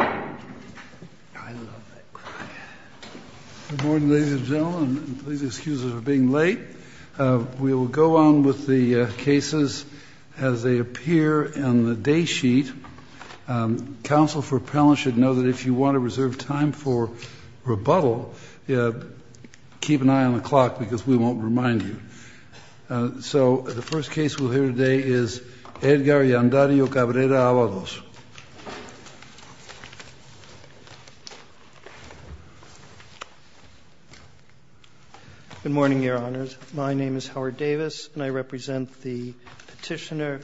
I love that cry. Good morning, ladies and gentlemen, and please excuse us for being late. We will go on with the cases as they appear in the day sheet. Counsel for appellants should know that if you want to reserve time for rebuttal, keep an eye on the clock because we won't remind you. So the first case we'll hear today is Edgar Yandario Cabrera Avalos. Good morning, Your Honors. My name is Howard Davis, and I represent the Petitioner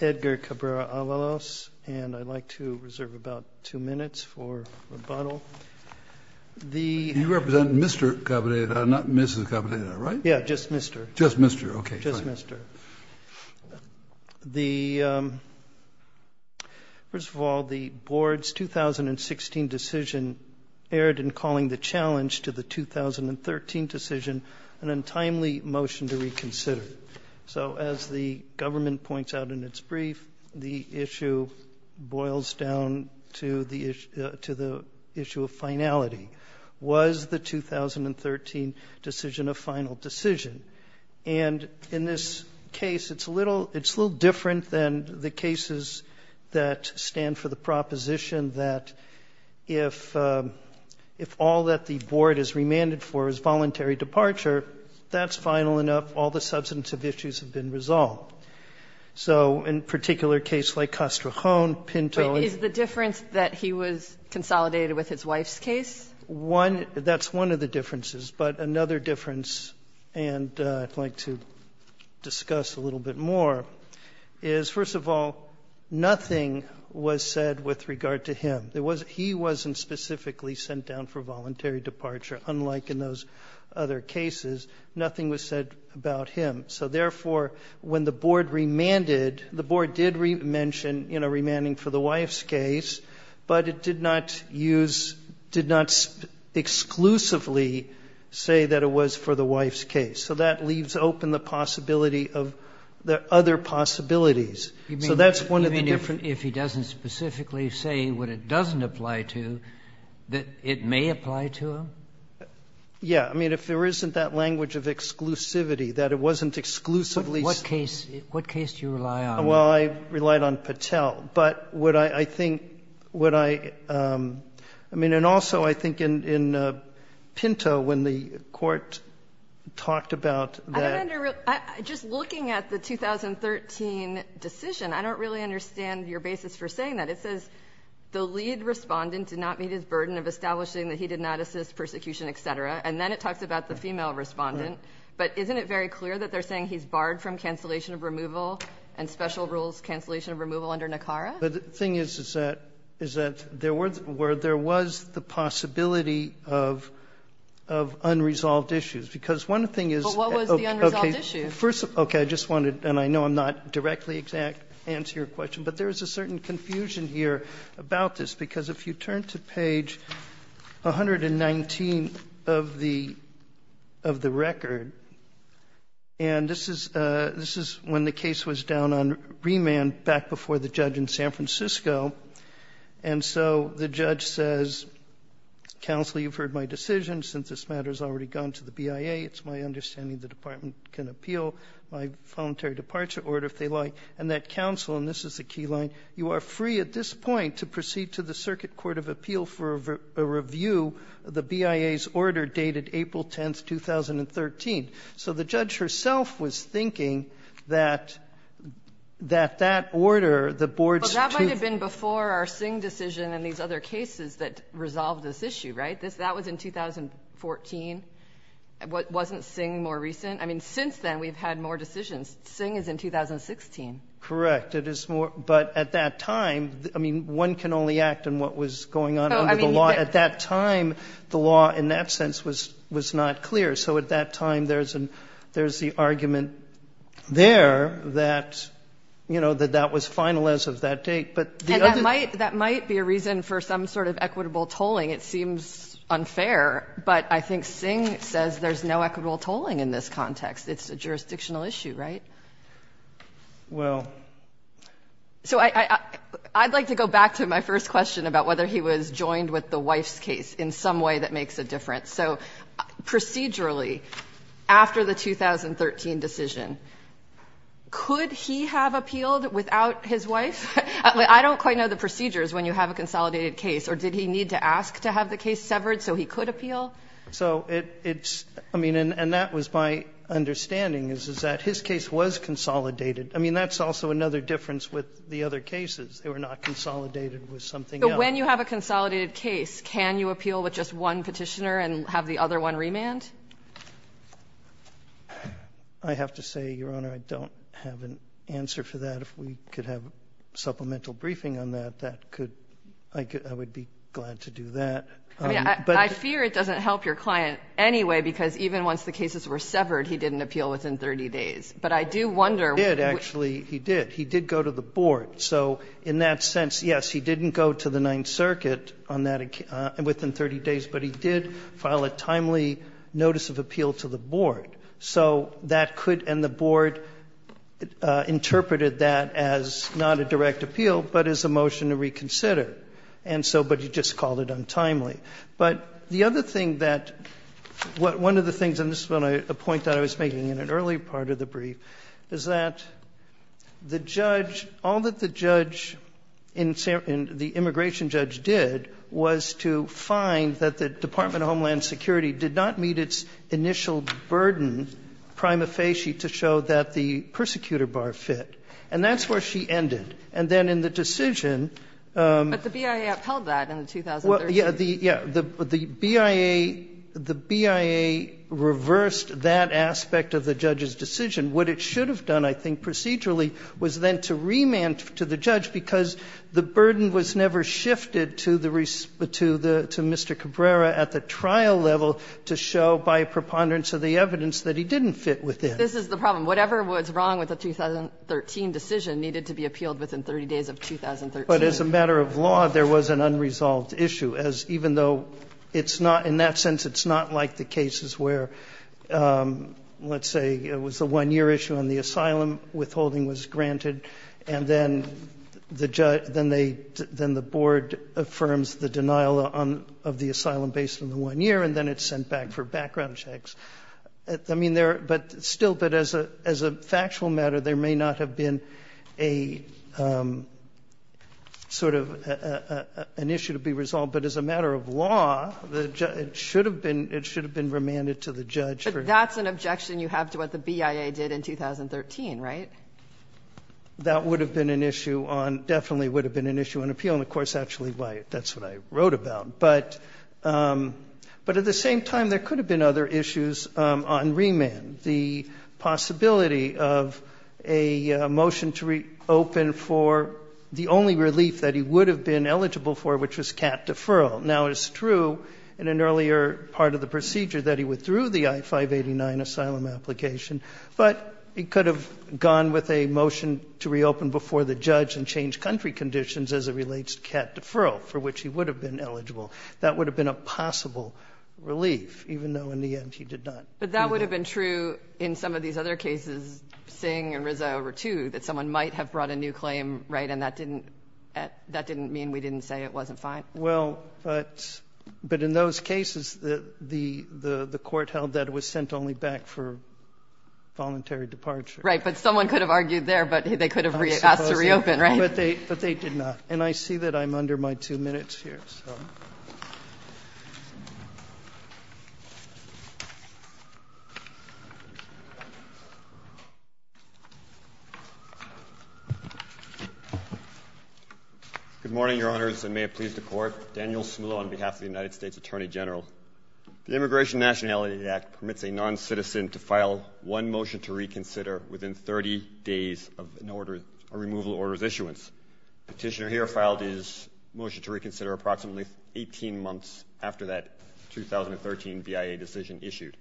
Edgar Cabrera Avalos, and I'd like to reserve about two minutes for rebuttal. You represent Mr. Cabrera, not Mrs. Cabrera, right? Yeah, just Mr. Just Mr., okay. Just Mr. First of all, the board's 2016 decision erred in calling the challenge to the 2013 decision an untimely motion to reconsider. So as the government points out in its brief, the issue boils down to the issue of finality. Was the 2013 decision a final decision? And in this case, it's a little different than the cases that stand for the proposition that if all that the board is remanded for is voluntary departure, that's final enough. All the substantive issues have been resolved. So in a particular case like Castrojon, Pinto and the difference that he was consolidated with his wife's case? That's one of the differences. But another difference, and I'd like to discuss a little bit more, is, first of all, nothing was said with regard to him. He wasn't specifically sent down for voluntary departure, unlike in those other cases. Nothing was said about him. So therefore, when the board remanded, the board did mention, you know, remanding for the wife's case, but it did not use, did not exclusively say that it was for the wife's case. So that leaves open the possibility of the other possibilities. So that's one of the differences. Even if he doesn't specifically say what it doesn't apply to, that it may apply to him? Yeah. I mean, if there isn't that language of exclusivity, that it wasn't exclusively Sotomayor, what case do you rely on? Well, I relied on Patel. But what I think, what I, I mean, and also I think in Pinto, when the Court talked about that. I don't under, just looking at the 2013 decision, I don't really understand your basis for saying that. It says the lead Respondent did not meet his burden of establishing that he did not assist, persecution, et cetera. And then it talks about the female Respondent. But isn't it very clear that they're saying he's barred from cancellation of removal and special rules cancellation of removal under NACARA? But the thing is, is that, is that there were, where there was the possibility of, of unresolved issues. Because one thing is. But what was the unresolved issue? First, okay. I just wanted, and I know I'm not directly exact to answer your question, but there is a certain confusion here about this. Because if you turn to page 119 of the, of the record, and this is, this is when the case was down on remand back before the judge in San Francisco. And so the judge says, Counsel, you've heard my decision. Since this matter has already gone to the BIA, it's my understanding the Department can appeal my voluntary departure order if they like. And that Counsel, and this is the key line, you are free at this point to proceed to the Circuit Court of Appeal for a review of the BIA's order dated April 10th, 2013. So the judge herself was thinking that, that that order, the board's two. But that might have been before our Singh decision and these other cases that resolved this issue, right? That was in 2014. Wasn't Singh more recent? I mean, since then, we've had more decisions. Singh is in 2016. Correct. It is more, but at that time, I mean, one can only act on what was going on under the law. At that time, the law in that sense was, was not clear. So at that time, there's an, there's the argument there that, you know, that that was final as of that date. But the other. And that might, that might be a reason for some sort of equitable tolling. It seems unfair, but I think Singh says there's no equitable tolling in this context. It's a jurisdictional issue, right? Well. So I, I'd like to go back to my first question about whether he was joined with the wife's case in some way that makes a difference. So procedurally, after the 2013 decision, could he have appealed without his wife? I don't quite know the procedures when you have a consolidated case. Or did he need to ask to have the case severed so he could appeal? So it's, I mean, and that was my understanding, is that his case was consolidated. I mean, that's also another difference with the other cases. They were not consolidated with something else. But when you have a consolidated case, can you appeal with just one Petitioner and have the other one remand? I have to say, Your Honor, I don't have an answer for that. If we could have supplemental briefing on that, that could, I would be glad to do that. But I fear it doesn't help your client anyway, because even once the cases were severed, he didn't appeal within 30 days. But I do wonder. He did, actually. He did. He did go to the board. So in that sense, yes, he didn't go to the Ninth Circuit on that, within 30 days. But he did file a timely notice of appeal to the board. So that could, and the board interpreted that as not a direct appeal, but as a motion to reconsider. And so, but he just called it untimely. But the other thing that one of the things, and this is a point that I was making in an earlier part of the brief, is that the judge, all that the judge, the immigration judge did was to find that the Department of Homeland Security did not meet its initial burden prima facie to show that the persecutor bar fit. And that's where she ended. And then in the decision the BIA reversed that aspect of the judge's decision. What it should have done, I think, procedurally, was then to remand to the judge, because the burden was never shifted to the Mr. Cabrera at the trial level to show by preponderance of the evidence that he didn't fit within. This is the problem. Whatever was wrong with the 2013 decision needed to be appealed within 30 days of 2013. But as a matter of law, there was an unresolved issue. As even though it's not, in that sense, it's not like the cases where, let's say it was a one-year issue and the asylum withholding was granted, and then the judge, then they, then the board affirms the denial on, of the asylum based on the one year, and then it's sent back for background checks. I mean, there, but still, but as a factual matter, there may not have been a sort of an issue to be resolved. But as a matter of law, it should have been remanded to the judge. But that's an objection you have to what the BIA did in 2013, right? That would have been an issue on, definitely would have been an issue on appeal. And, of course, actually that's what I wrote about. But at the same time, there could have been other issues on remand. The possibility of a motion to reopen for the only relief that he would have been eligible for, which was CAT deferral. Now it's true in an earlier part of the procedure that he withdrew the I-589 asylum application, but he could have gone with a motion to reopen before the judge and change country conditions as it relates to CAT deferral, for which he would have been eligible. That would have been a possible relief, even though in the end he did not. But that would have been true in some of these other cases, Singh and Rizza over two, that someone might have brought a new claim, right? And that didn't mean we didn't say it wasn't fine. Well, but in those cases, the court held that it was sent only back for voluntary departure. Right, but someone could have argued there, but they could have asked to reopen, right? But they did not. And I see that I'm under my two minutes here, so. Good morning, Your Honors, and may it please the Court. Daniel Smula on behalf of the United States Attorney General. The Immigration Nationality Act permits a noncitizen to file one motion to reconsider within 30 days of an order, a removal order's issuance. Petitioner here filed his motion to reconsider approximately 18 months after that 2013 BIA decision issued.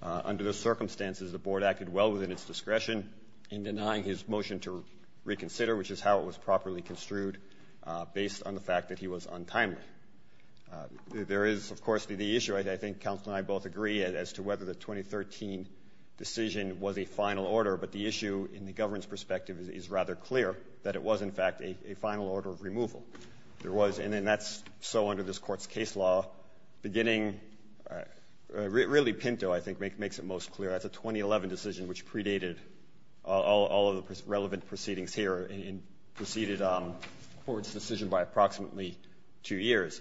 Under those circumstances, the Board acted well within its discretion in denying his motion to reconsider, which is how it was properly construed, based on the fact that he was untimely. There is, of course, the issue, I think counsel and I both agree, as to whether the 2013 decision was a final order. But the issue, in the government's perspective, is rather clear that it was, in fact, a final order of removal. There was, and then that's so under this Court's case law, beginning, really Pinto, I think, makes it most clear. That's a 2011 decision, which predated all of the relevant proceedings here and preceded the Court's decision by approximately two years.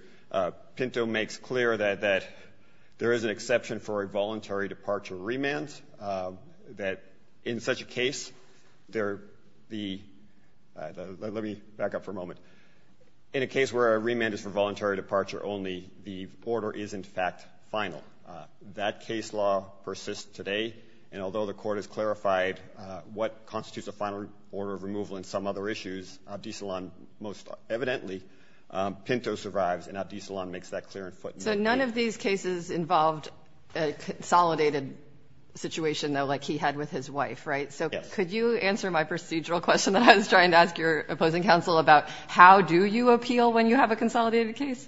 Pinto makes clear that there is an exception for a voluntary departure remand, that in such a case, there the — let me back up for a moment. In a case where a remand is for voluntary departure only, the order is, in fact, final. That case law persists today, and although the Court has clarified what constitutes a final order of removal and some other issues, Abdi Salon most evidently, Pinto survives, and Abdi Salon makes that clear and footnote. So none of these cases involved a consolidated situation, though, like he had with his wife, right? Yes. So could you answer my procedural question that I was trying to ask your opposing counsel about how do you appeal when you have a consolidated case?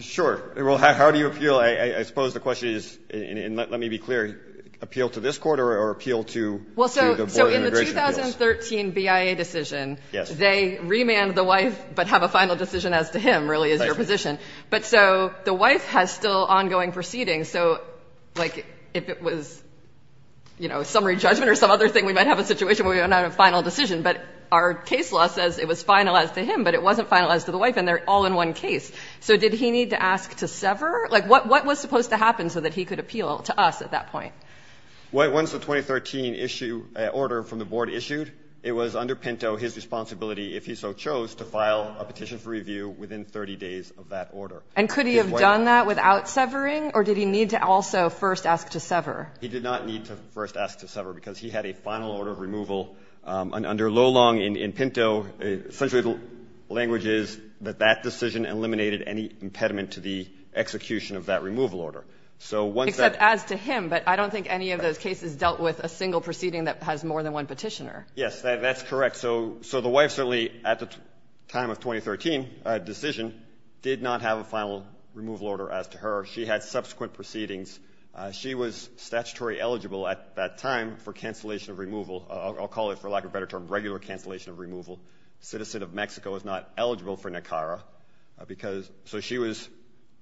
Sure. Well, how do you appeal? I suppose the question is, and let me be clear, appeal to this Court or appeal to the Board of Immigration Appeals? Well, so in the 2013 BIA decision, they remanded the wife but have a final decision as to him, really, as your position. But so the wife has still ongoing proceedings. So, like, if it was, you know, summary judgment or some other thing, we might have a situation where we don't have a final decision. But our case law says it was finalized to him, but it wasn't finalized to the wife, and they're all in one case. So did he need to ask to sever? Like, what was supposed to happen so that he could appeal to us at that point? Well, once the 2013 issue order from the Board issued, it was under Pinto his responsibility, if he so chose, to file a petition for review within 30 days of that order. And could he have done that without severing, or did he need to also first ask to sever? He did not need to first ask to sever, because he had a final order of removal. Under Lolong in Pinto, essentially the language is that that decision eliminated any impediment to the execution of that removal order. So once that ---- Except as to him, but I don't think any of those cases dealt with a single proceeding that has more than one Petitioner. Yes. That's correct. So the wife certainly, at the time of 2013 decision, did not have a final removal order as to her. She had subsequent proceedings. She was statutory eligible at that time for cancellation of removal. I'll call it, for lack of a better term, regular cancellation of removal. A citizen of Mexico is not eligible for NACARA. So she was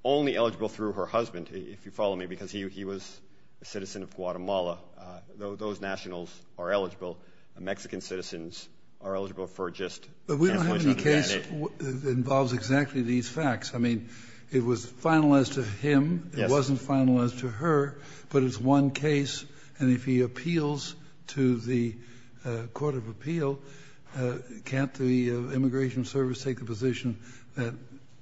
only eligible through her husband, if you follow me, because he was a citizen of Guatemala. Those nationals are eligible. Mexican citizens are eligible for just cancellation of NACARA. But we don't have any case that involves exactly these facts. I mean, it was finalized to him. Yes. It wasn't finalized to her, but it's one case. And if he appeals to the court of appeal, can't the Immigration Service take the position that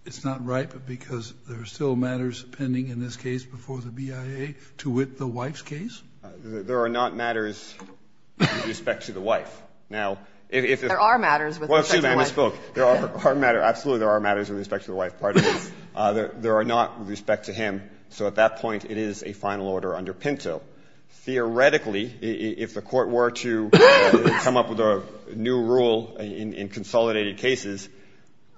it's not right because there are still matters pending in this case before the BIA to wit the wife's case? There are not matters with respect to the wife. Now, if there are matters with respect to the wife. Well, excuse me. I misspoke. There are matters. Absolutely, there are matters with respect to the wife. There are not with respect to him. So at that point, it is a final order under Pinto. Theoretically, if the Court were to come up with a new rule in consolidated cases,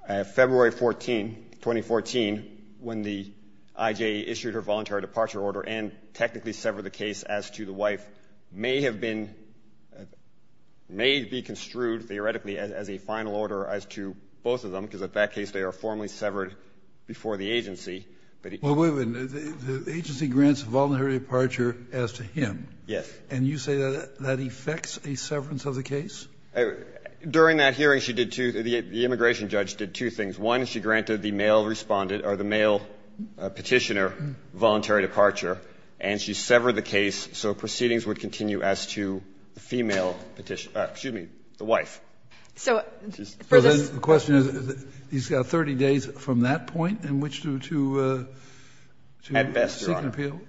February 14, 2014, when the IJA issued her voluntary departure order and technically severed the case as to the wife, may have been, may be construed theoretically as a final order as to both of them, because in that case they are formally severed before the agency. But it can't be. Well, wait a minute. The agency grants a voluntary departure as to him. Yes. And you say that that affects a severance of the case? During that hearing, she did two things. The immigration judge did two things. One, she granted the male Respondent or the male Petitioner voluntary departure, and she severed the case so proceedings would continue as to the female Petitioner or, excuse me, the wife. So the question is, he's got 30 days from that point in which to seek an appeal?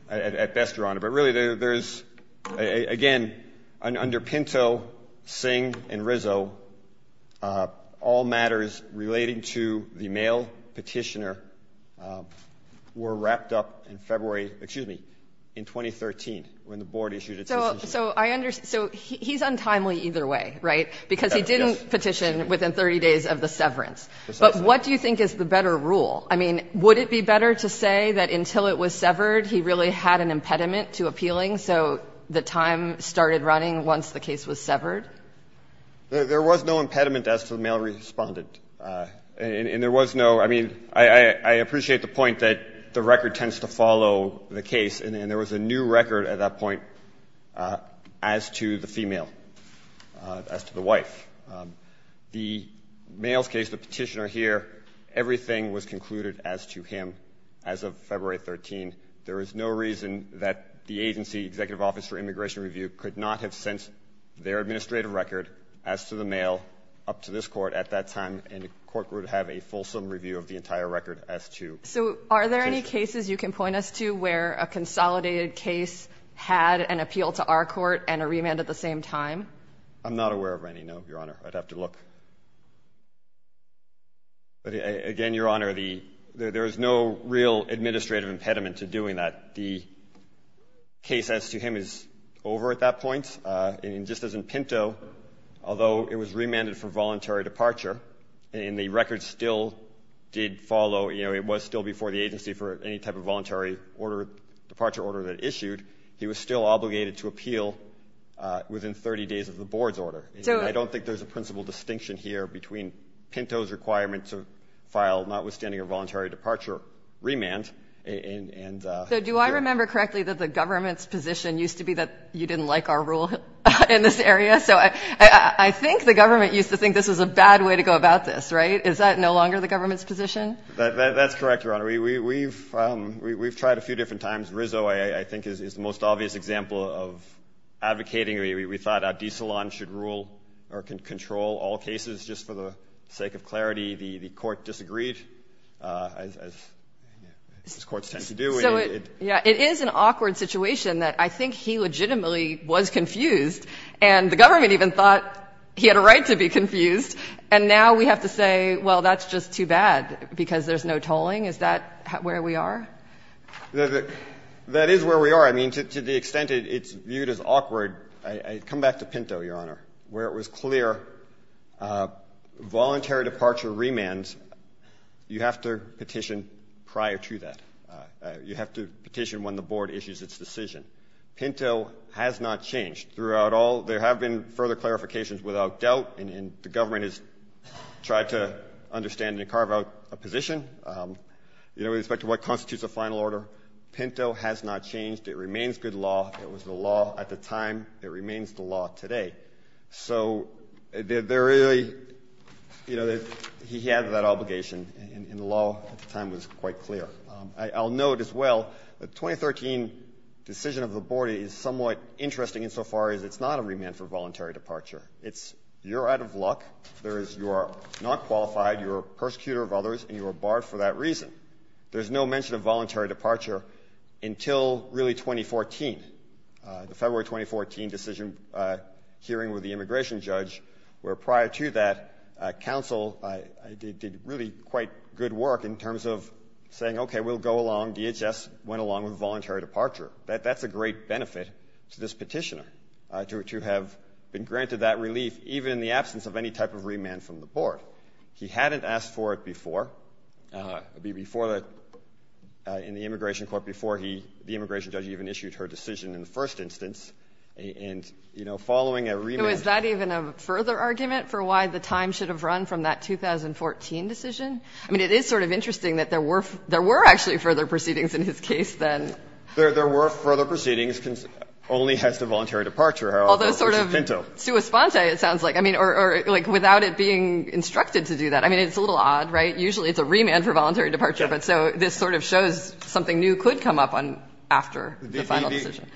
At best, Your Honor. But really, there is, again, under Pinto, Singh, and Rizzo, all matters relating to the male Petitioner were wrapped up in February, excuse me, in 2013, when the Board issued its decision. So I understand. So he's untimely either way, right? Because he didn't petition within 30 days of the severance. But what do you think is the better rule? I mean, would it be better to say that until it was severed, he really had an impediment to appealing, so the time started running once the case was severed? There was no impediment as to the male Respondent. And there was no, I mean, I appreciate the point that the record tends to follow the case, and there was a new record at that point as to the female, as to the wife. The male's case, the Petitioner here, everything was concluded as to him as of February 13. There is no reason that the agency, Executive Office for Immigration Review, could not have sent their administrative record as to the male up to this Court at that time, and the Court would have a fulsome review of the entire record as to the case. So are there any cases you can point us to where a consolidated case had an appeal to our Court and a remand at the same time? I'm not aware of any, no, Your Honor. I'd have to look. Again, Your Honor, there is no real administrative impediment to doing that. The case as to him is over at that point. And just as in Pinto, although it was remanded for voluntary departure, and the record still did follow, you know, it was still before the agency for any type of voluntary order, departure order that issued, he was still obligated to appeal within 30 days of the Board's order. I don't think there's a principal distinction here between Pinto's requirement to file, notwithstanding a voluntary departure remand. So do I remember correctly that the government's position used to be that you didn't like our rule in this area? So I think the government used to think this was a bad way to go about this, right? Is that no longer the government's position? That's correct, Your Honor. We've tried a few different times. Rizzo, I think, is the most obvious example of advocating. We thought Addis-Salaam should rule or control all cases just for the sake of clarity. The court disagreed, as courts tend to do. So, yeah, it is an awkward situation that I think he legitimately was confused, and the government even thought he had a right to be confused. And now we have to say, well, that's just too bad because there's no tolling. Is that where we are? That is where we are. I mean, to the extent it's viewed as awkward, I come back to Pinto, Your Honor, where it was clear voluntary departure remands, you have to petition prior to that. You have to petition when the board issues its decision. Pinto has not changed throughout all. There have been further clarifications without doubt, and the government has tried to understand and carve out a position. With respect to what constitutes a final order, Pinto has not changed. It remains good law. It was the law at the time. It remains the law today. So they're really, you know, he has that obligation, and the law at the time was quite clear. I'll note as well the 2013 decision of the board is somewhat interesting insofar as it's not a remand for voluntary departure. It's you're out of luck. You are not qualified. You are a persecutor of others, and you are barred for that reason. There's no mention of voluntary departure until really 2014, February 2014. Decision hearing with the immigration judge, where prior to that, counsel did really quite good work in terms of saying, okay, we'll go along. DHS went along with voluntary departure. That's a great benefit to this petitioner to have been granted that relief, even in the absence of any type of remand from the board. He hadn't asked for it before, in the immigration court before the immigration judge even issued her decision in the first instance. And, you know, following a remand ---- So is that even a further argument for why the time should have run from that 2014 decision? I mean, it is sort of interesting that there were actually further proceedings in his case than ---- There were further proceedings only as to voluntary departure. Although sort of ---- Which is pinto. ----sua sponte, it sounds like. I mean, or like without it being instructed to do that. I mean, it's a little odd, right? Usually it's a remand for voluntary departure, but so this sort of shows something new could come up after the final decision.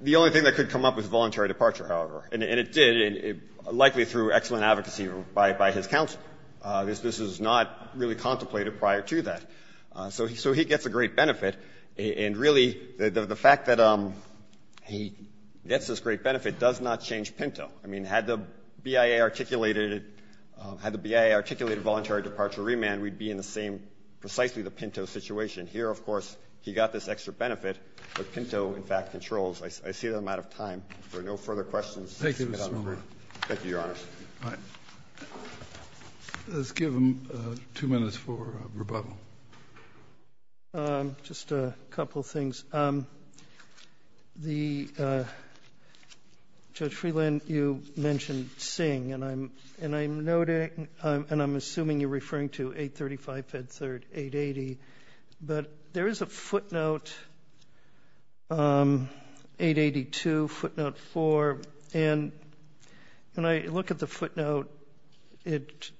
The only thing that could come up was voluntary departure, however. And it did, likely through excellent advocacy by his counsel. This was not really contemplated prior to that. So he gets a great benefit. And really the fact that he gets this great benefit does not change pinto. I mean, had the BIA articulated it, had the BIA articulated voluntary departure remand, we'd be in the same, precisely the pinto situation. Here, of course, he got this extra benefit, but pinto, in fact, controls. I see that I'm out of time. If there are no further questions. Thank you, Mr. Member. Thank you, Your Honor. All right. Let's give him two minutes for rebuttal. Just a couple of things. The ---- Judge Freeland, you mentioned Singh. And I'm noting and I'm assuming you're referring to 835, Fed Third, 880. But there is a footnote, 882, footnote 4. And when I look at the footnote, it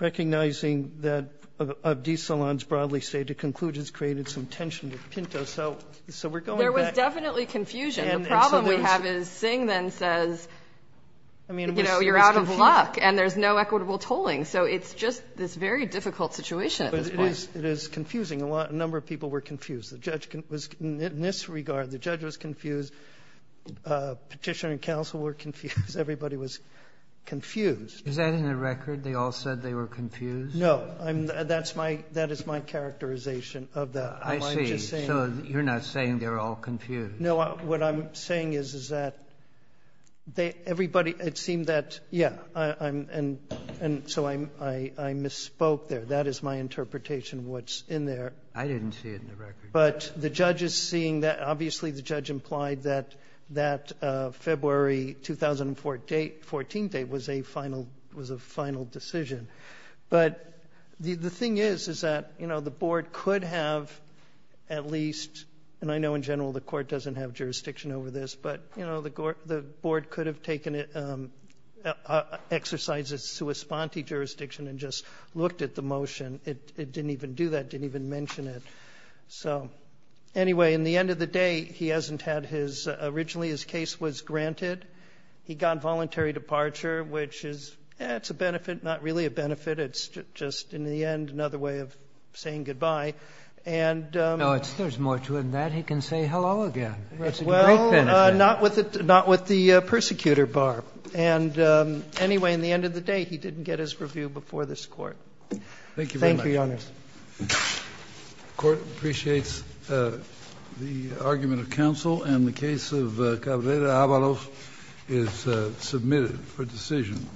recognizing that of desalons broadly stated, conclude it's created some tension with pinto. So we're going back. There was definitely confusion. The problem we have is Singh then says, you know, you're out of luck, and there's no equitable tolling. So it's just this very difficult situation at this point. It is confusing. A number of people were confused. The judge was, in this regard, the judge was confused. Petitioner and counsel were confused. Everybody was confused. Is that in the record? They all said they were confused? No. That's my, that is my characterization of that. I see. So you're not saying they're all confused. No. What I'm saying is, is that everybody, it seemed that, yeah. And so I misspoke there. That is my interpretation of what's in there. I didn't see it in the record. But the judge is seeing that. Obviously, the judge implied that that February 2004 date, 14th date, was a final decision. But the thing is, is that, you know, the Board could have at least, and I know in general the Court doesn't have jurisdiction over this, but, you know, the Board could have taken it, exercised its sua sponte jurisdiction and just looked at the motion. It didn't even do that. It didn't even mention it. So, anyway, in the end of the day, he hasn't had his, originally his case was granted. He got voluntary departure, which is, yeah, it's a benefit, not really a benefit. It's just, in the end, another way of saying goodbye. And so it's. No, there's more to it than that. He can say hello again. That's a great benefit. Not with the persecutor bar. And, anyway, in the end of the day, he didn't get his review before this Court. Thank you, Your Honors. The Court appreciates the argument of counsel, and the case of Cabrera-Avalos is submitted for decision.